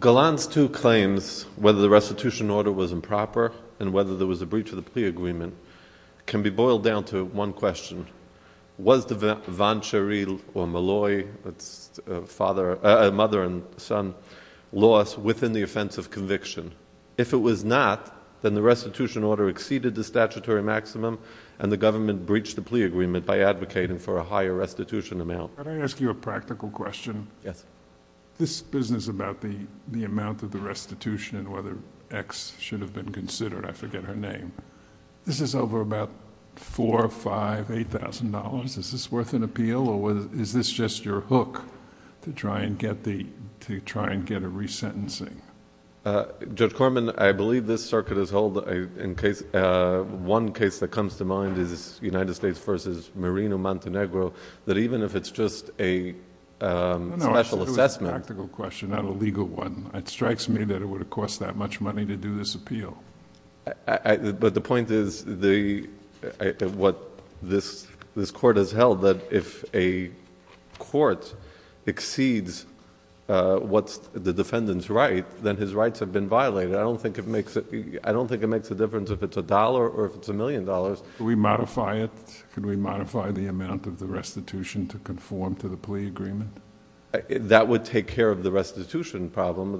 Gallant's two claims, whether the restitution order was improper and whether there was a breach of the plea agreement, can be boiled down to one question. Was the vanchery or molloy, that's a mother and son, loss within the offense of conviction? If it was not, then the restitution order exceeded the statutory maximum and the government breached the plea agreement by advocating for a higher restitution amount. Can I ask you a practical question? Yes. This business about the amount of the restitution and whether X should have been considered, I forget her name, this is over about $4,000, $5,000, $8,000. Is this worth an appeal or is this just your hook to try and get a resentencing? Judge Corman, I believe this circuit is held in case... one case that comes to mind is United States v. Merino Montenegro, that even if it's just a special assessment... No, no, I'm asking a practical question, not a legal one. It strikes me that it would have cost that much money to do this appeal. The point is what this court has held, that if a court exceeds what's the defendant's right, then his rights have been violated. I don't think it makes a difference if it's a dollar or if it's a million dollars. Can we modify it? Can we modify the amount of the restitution to conform to the plea agreement? That would take care of the restitution problem.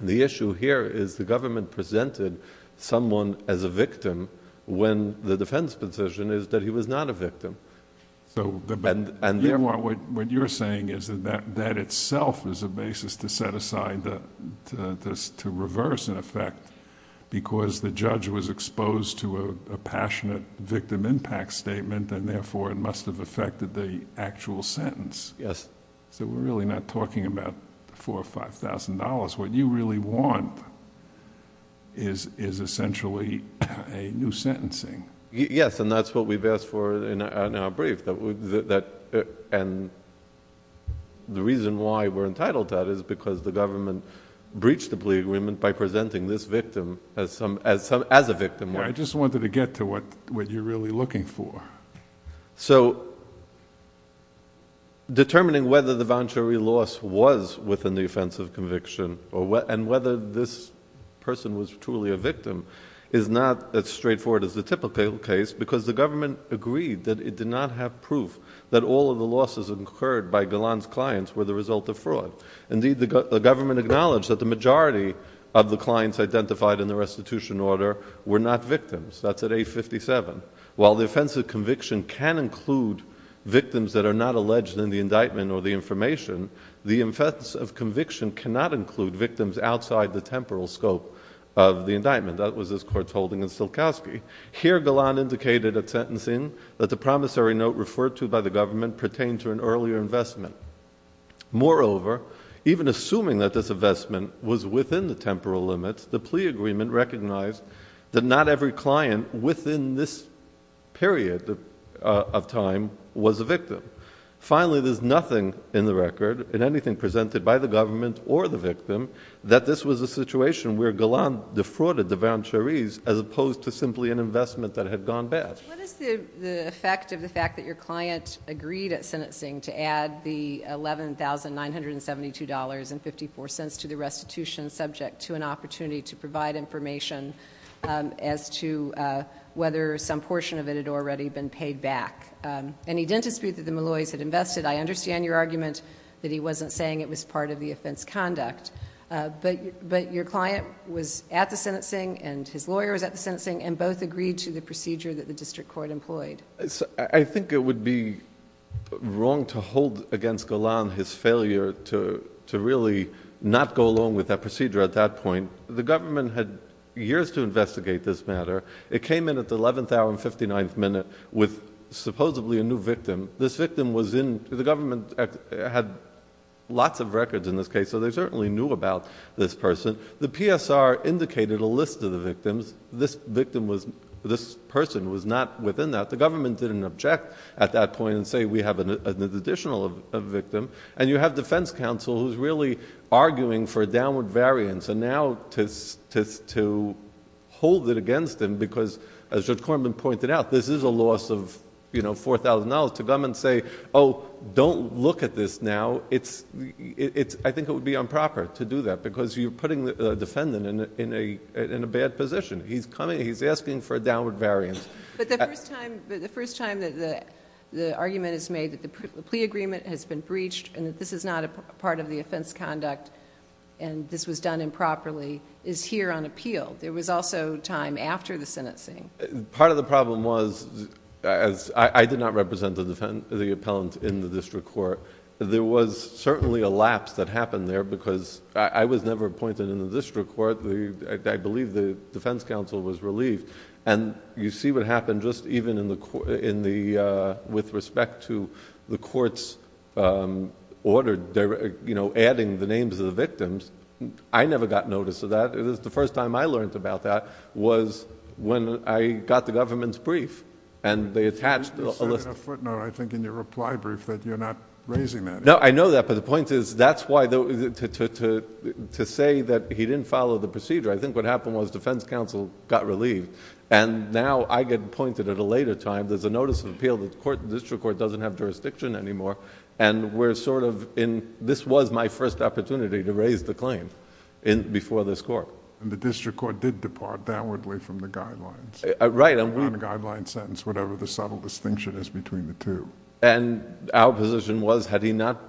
The issue here is the government presented someone as a victim when the defense position is that he was not a victim. What you're saying is that that itself is a basis to set aside to reverse, in effect, because the judge was exposed to a passionate victim impact statement and therefore it must have affected the actual sentence. Yes. So we're really not talking about $4,000 or $5,000. What you really want is essentially a new sentencing. Yes, and that's what we've asked for in our brief. The reason why we're entitled to that is because the government breached the plea agreement by presenting this victim as a victim. I just wanted to get to what you're really looking for. So determining whether the venturi loss was within the offense of conviction and whether this person was truly a victim is not as straightforward as the typical case because the government agreed that it did not have proof that all of the losses incurred by Galland's clients were the result of fraud. Indeed, the government acknowledged that the majority of the clients identified in the indictment as victims. That's at 857. While the offense of conviction can include victims that are not alleged in the indictment or the information, the offense of conviction cannot include victims outside the temporal scope of the indictment. That was this court's holding in Silkowski. Here Galland indicated at sentencing that the promissory note referred to by the government pertained to an earlier investment. Moreover, even assuming that this investment was within the temporal limits, the plea agreement recognized that not every client within this period of time was a victim. Finally, there's nothing in the record in anything presented by the government or the victim that this was a situation where Galland defrauded the venturis as opposed to simply an investment that had gone bad. What is the effect of the fact that your client agreed at sentencing to add the $11,972.54 to the restitution subject to an opportunity to provide information as to whether some portion of it had already been paid back? And he didn't dispute that the Malloys had invested. I understand your argument that he wasn't saying it was part of the offense conduct. But your client was at the sentencing and his lawyer was at the sentencing and both agreed to the procedure that the district court employed. I think it would be wrong to hold against Galland his failure to really not go along with that procedure at that point. The government had years to investigate this matter. It came in at the 11th hour and 59th minute with supposedly a new victim. This victim was in, the government had lots of records in this case so they certainly knew about this person. The PSR indicated a list of the victims. This person was not within that. The government didn't object at that point and say, we have an additional victim. And you have defense counsel who's really arguing for a downward variance and now to hold it against him because as Judge Korman pointed out, this is a loss of $4,000 to come and say, oh, don't look at this now. I think it would be improper to do that because you're putting the defendant... he's asking for a downward variance. But the first time that the argument is made that the plea agreement has been breached and that this is not a part of the offense conduct and this was done improperly is here on appeal. There was also time after the sentencing. Part of the problem was, as I did not represent the appellant in the district court, there was certainly a lapse that happened there because I was never appointed in the district court. I believe the defense counsel was relieved. You see what happened just even in the... with respect to the court's order adding the names of the victims. I never got notice of that. It was the first time I learned about that was when I got the government's brief and they attached... The footnote I think in your reply brief that you're not raising that. No, I know that, but the point is that's why to say that he didn't follow the procedure, I think what happened was defense counsel got relieved and now I get appointed at a later time. There's a notice of appeal that the district court doesn't have jurisdiction anymore and we're sort of in... this was my first opportunity to raise the claim before this court. The district court did depart downwardly from the guidelines. Right. On a guideline sentence, whatever the subtle distinction is between the two. Our position was had he not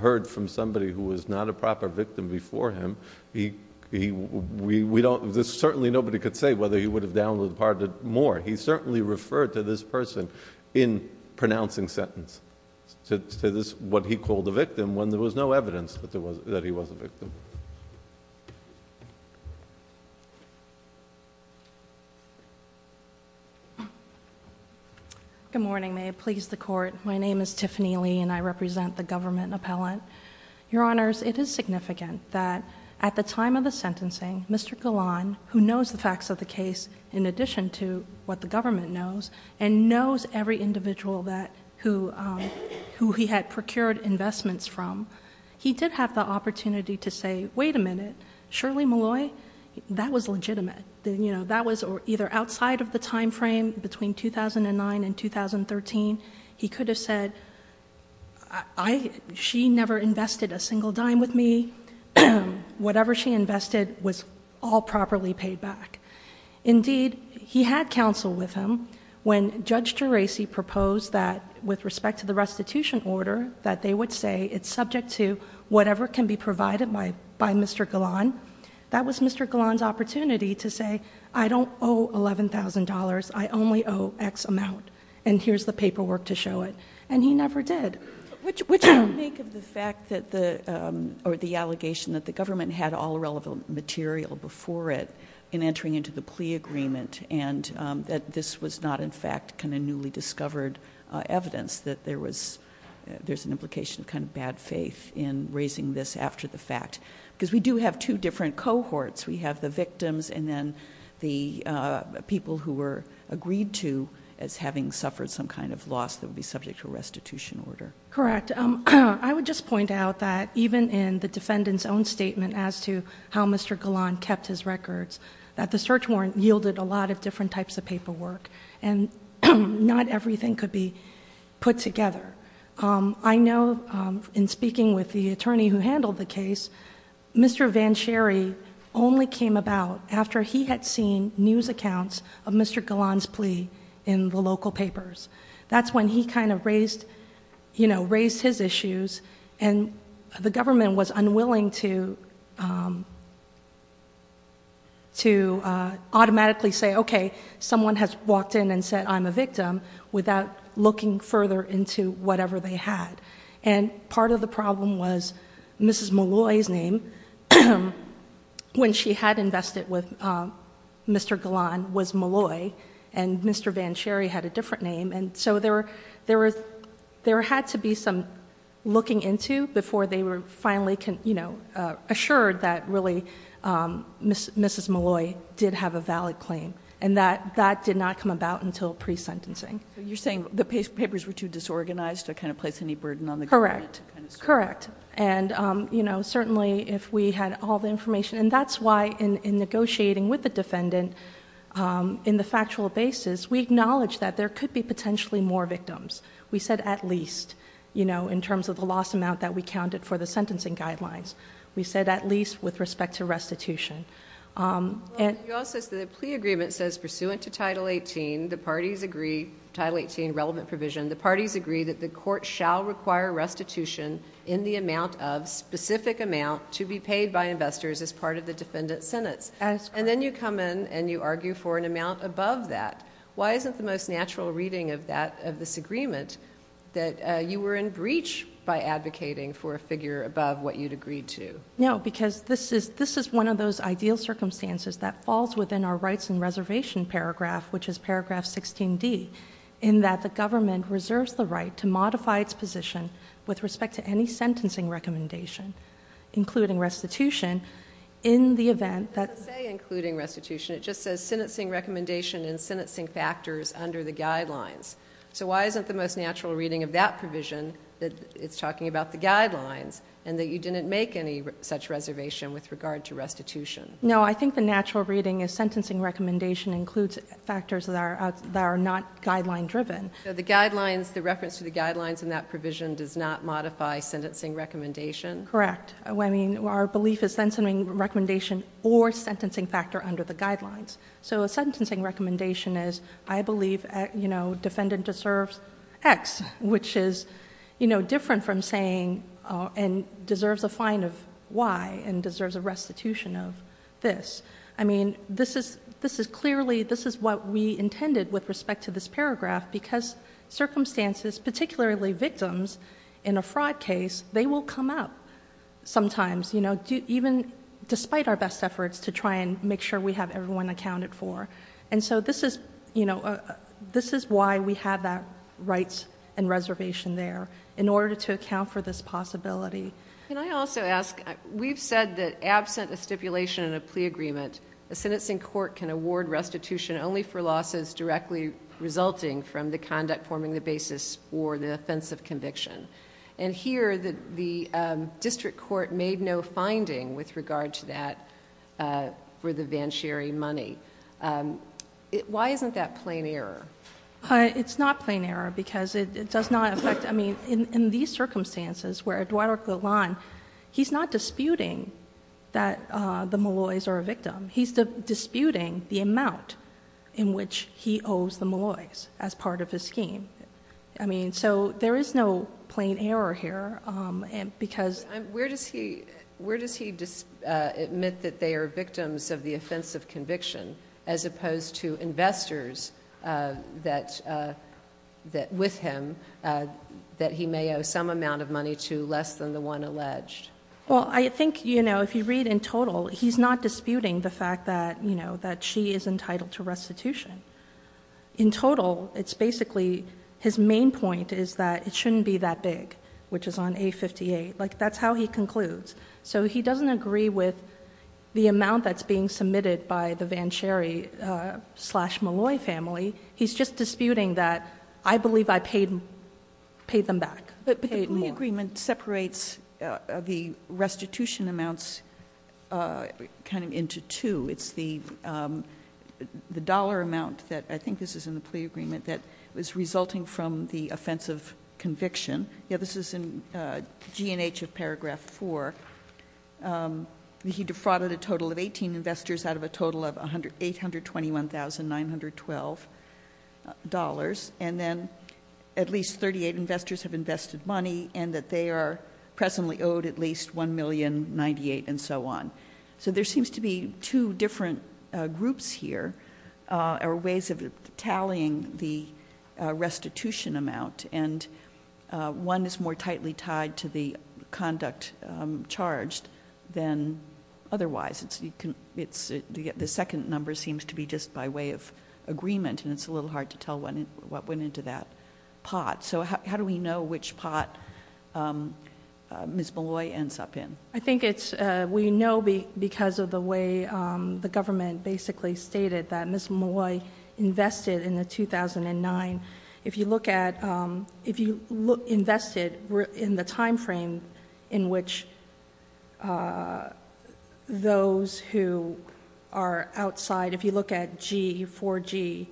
heard from somebody who was not a proper victim before him, we don't... there's certainly nobody could say whether he would have downloaded more. He certainly referred to this person in pronouncing sentence to what he called the victim when there was no evidence that he was a victim. Good morning. May it please the Court. My name is Tiffany Lee and I represent the government appellant. Your Honors, it is significant that at the time of the sentencing, Mr. Galan, who knows the facts of the case in addition to what the government knows and knows every individual that... who he had counsel with him, when Judge Geraci proposed that with respect to the by Mr. Galan, that was Mr. Galan's opportunity to say, I don't owe $11,000. I only owe X amount and here's the paperwork to show it. And he never did. Which... which you make of the fact that the... or the allegation that the government had all relevant material before it in entering into the plea agreement and that this was not in fact kind of newly discovered evidence that there was... there's an implication of kind of bad faith in raising this after the fact. Because we do have two different cohorts. We have the victims and then the people who were agreed to as having suffered some kind of loss that would be subject to restitution order. Correct. I would just point out that even in the defendant's own statement as to how Mr. Galan kept his records, that the search warrant yielded a lot of different types of paperwork and not everything could be put together. I know in speaking with the attorney who handled the case, Mr. Vansherry only came about after he had seen news accounts of Mr. Galan's plea in the local papers. That's when he kind of raised... you know, raised his issues and the government was unwilling to... to automatically say, okay, someone has walked in and said I'm a victim without looking further into whatever they had. And part of the problem was Mrs. Molloy's name, when she had invested with Mr. Galan, was Molloy and Mr. Vansherry had a different name. And so there were... there had to be some looking into before they were finally, you know, assured that really Mrs. Molloy did have a valid claim. And that did not come about until pre-sentencing. You're saying the papers were too disorganized to kind of place any burden on the government? Correct. Correct. And, you know, certainly if we had all the information... and that's why in negotiating with the defendant in the factual basis, we acknowledged that there could be potentially more victims. We said at least, you know, in terms of the loss amount that we counted for the sentencing guidelines. We said at least with respect to restitution. You also said the plea agreement says, pursuant to Title 18, the parties agree... Title 18, relevant provision... the parties agree that the court shall require restitution in the amount of specific amount to be paid by investors as part of the defendant's sentence. And then you come in and you argue for an amount above that. Why isn't the most natural reading of that, of this agreement, that you were in breach by advocating for a figure above what you'd agreed to? No, because this is one of those ideal circumstances that falls within our rights and reservation paragraph, which is paragraph 16D, in that the government reserves the right to modify its position with respect to any sentencing recommendation, including restitution, in the event that... It doesn't say including restitution. It just says sentencing recommendation and sentencing factors under the guidelines. So why isn't the most natural reading of that provision that it's talking about the guidelines and that you didn't make any such reservation with regard to restitution? No, I think the natural reading is sentencing recommendation includes factors that are not guideline-driven. So the guidelines... the reference to the guidelines in that provision does not modify sentencing recommendation? Correct. I mean, our belief is sentencing recommendation or sentencing factor under which is different from saying... and deserves a fine of Y and deserves a restitution of this. I mean, this is clearly... this is what we intended with respect to this paragraph, because circumstances, particularly victims in a fraud case, they will come up sometimes, you know, even despite our best efforts to try and make sure we have everyone accounted for. And so this is, you know... this is why we have that rights and reservation there, in order to account for this possibility. Can I also ask... we've said that absent a stipulation and a plea agreement, a sentencing court can award restitution only for losses directly resulting from the conduct forming the basis for the offense of conviction. And here, the district court made no finding with regard to that for the venturi money. Why isn't that plain error? It's not plain error, because it does not affect... I mean, in these circumstances where Eduardo Galan... he's not disputing that the Molloy's are a victim. He's disputing the amount in which he owes the Molloy's as part of his scheme. I mean, where does he... where does he admit that they are victims of the offense of conviction, as opposed to investors that... with him, that he may owe some amount of money to less than the one alleged? Well, I think, you know, if you read in total, he's not disputing the fact that, you know, that she is entitled to restitution. In total, it's basically... his main point is that it shouldn't be that big, which is on A58. Like, that's how he concludes. So he doesn't agree with the amount that's being submitted by the Venturi-slash-Molloy family. He's just disputing that, I believe I paid them back. But paid more. But the plea agreement separates the restitution amounts kind of into two. It's the offense of conviction. This is in G&H of paragraph 4. He defrauded a total of 18 investors out of a total of $821,912. And then at least 38 investors have invested money, and that they are presently owed at least $1,098,000 and so on. So there seems to be two different groups here, or ways of tallying the restitution amount. And one is more tightly tied to the conduct charged than otherwise. The second number seems to be just by way of agreement, and it's a little hard to tell what went into that pot. So how do we know which pot Ms. Molloy ends up in? I think it's... we know because of the way the government basically stated that Ms. Molloy was in 2009. If you look at... if you invested in the timeframe in which those who are outside, if you look at G, 4G,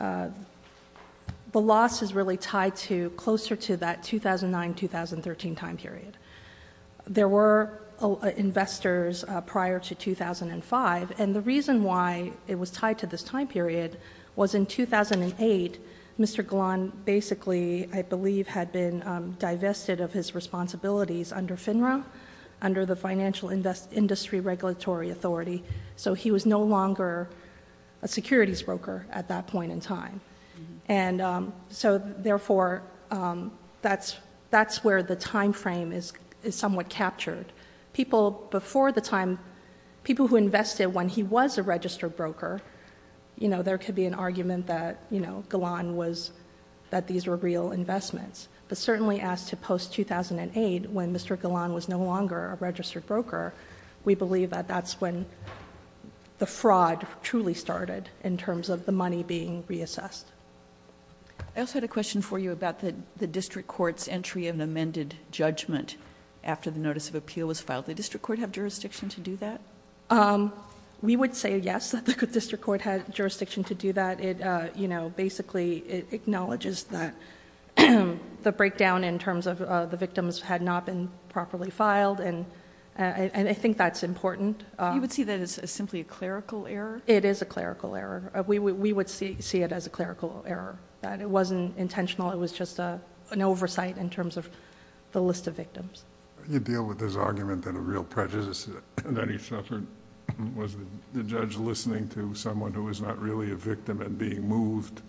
the loss is really tied to closer to that 2009-2013 time period. There were investors prior to 2005, and the reason why it was tied to this time period was in 2008, Mr. Golan basically, I believe, had been divested of his responsibilities under FINRA, under the Financial Industry Regulatory Authority. So he was no longer a securities broker at that point in time. And so, therefore, that's where the timeframe is somewhat captured. People before the time... people who invested when he was a registered broker, you know, there could be an argument that, you know, Golan was... that these were real investments. But certainly as to post-2008, when Mr. Golan was no longer a registered broker, we believe that that's when the fraud truly started in terms of the money being reassessed. I also had a question for you about the district court's entry in amended judgment after the notice of appeal was filed. Did the district court have jurisdiction to do that? We would say yes, that the district court had jurisdiction to do that. It, you know, basically, it acknowledges that the breakdown in terms of the victims had not been properly filed, and I think that's important. You would see that as simply a clerical error? It is a clerical error. We would see it as a clerical error. It wasn't intentional. It was just an oversight in terms of the list of victims. You deal with this argument that a real prejudice that he suffered was the judge listening to someone who was not really a victim and being moved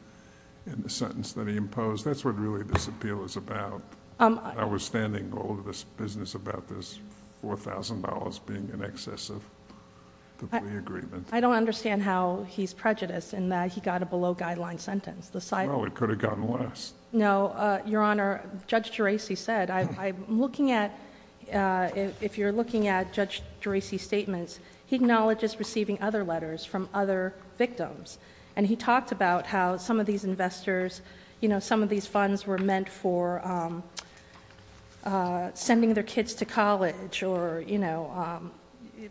in the sentence that he imposed. That's what really this appeal is about. I was standing all over this business about this $4,000 being in excess of the plea agreement. I don't understand how he's prejudiced in that he got a below-guideline sentence. Well, it could have gotten less. No, Your Honor, Judge Geraci said, I'm looking at, if you're looking at Judge Geraci's statements, he acknowledges receiving other letters from other victims, and he talked about how some of these investors, you know, some of these funds were meant for sending their kids to college or, you know,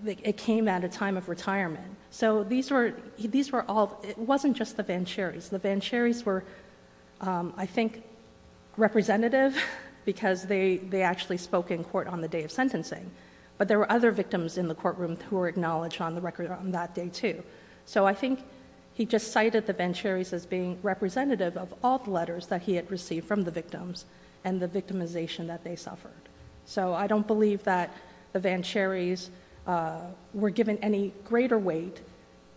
it came at a time of retirement. So these were all... it wasn't just the Vancheris. The Vancheris were, I think, representative because they actually spoke in court on the day of sentencing, but there were other victims in the courtroom who were acknowledged on the record on that day too. So I think he just cited the Vancheris as being representative of all the letters that he had received from the victims and the victimization that they suffered. So I don't believe that the Vancheris were given any greater weight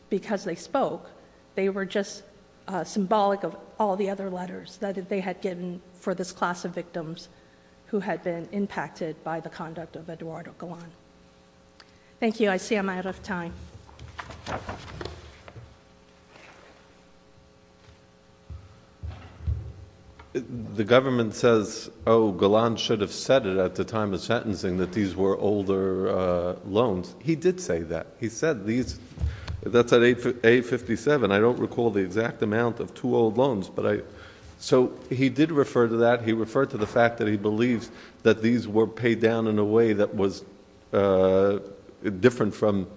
because they spoke. They were just symbolic of all the other letters that they had given for this class of victims who had been impacted by the conduct of Eduardo Galán. Thank you. I see I'm out of time. The government says, oh, Galán should have said it at the time of sentencing that these were older loans. He did say that. He said these... that's at 857. I don't recall the exact amount of two old loans, but I... so he did refer to that. He referred to the fact that he believes that these were paid down in a way that was different from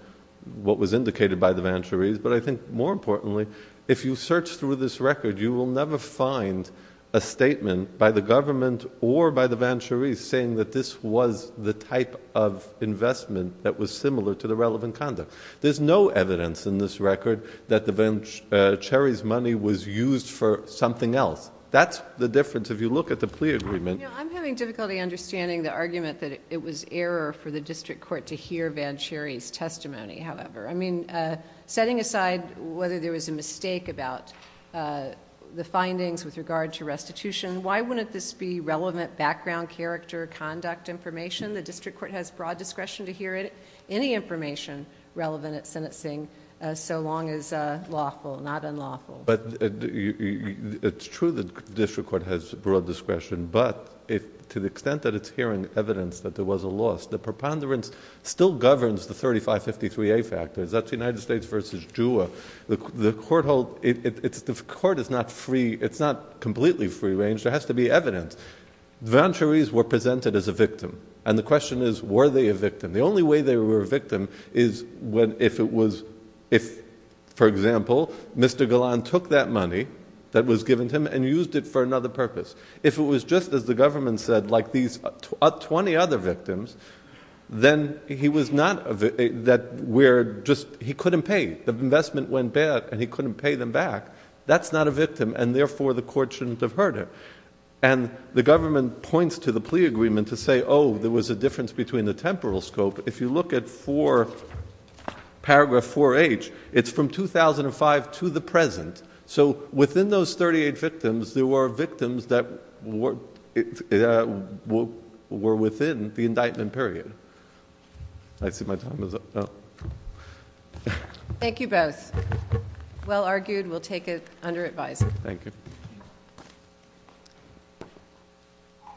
what was indicated by the Vancheris. But I think more importantly, if you search through this record, you will never find a statement by the government or by the Vancheris saying that this was the type of investment that was similar to the relevant conduct. There's no evidence in this record that the Vancheris' money was used for something else. That's the difference. If you look at the plea agreement... I'm having difficulty understanding the argument that it was error for the district court to hear Vancheris' testimony, however. I mean, setting aside whether there was a mistake about the findings with regard to restitution, why wouldn't this be relevant background, character, conduct information? The district court has broad discretion to hear any information relevant at sentencing so long as lawful, not unlawful. But it's true that the district court has broad discretion, but to the extent that it's hearing evidence that there was a loss, the preponderance still governs the 3553A factors. That's United States versus JUA. The court is not free. It's not completely free range. There has to be evidence. The Vancheris were presented as a victim, and the question is, were they a victim? The only way they were a victim is if, for example, Mr. Galan took that money that was given to him and used it for another purpose. If it was just, as the government said, like these 20 other victims, then he was not... he couldn't pay. The investment went bad, and he couldn't pay them back. That's not a victim, and therefore the court shouldn't have heard it. And the government points to the plea agreement to say, oh, there was a difference between the temporal scope. If you look at paragraph 4H, it's from 2005 to the present. So within those 38 victims, there were victims that were within the indictment period. I see my time is up. Thank you both. Well argued. We'll take it under advisory. Thank you.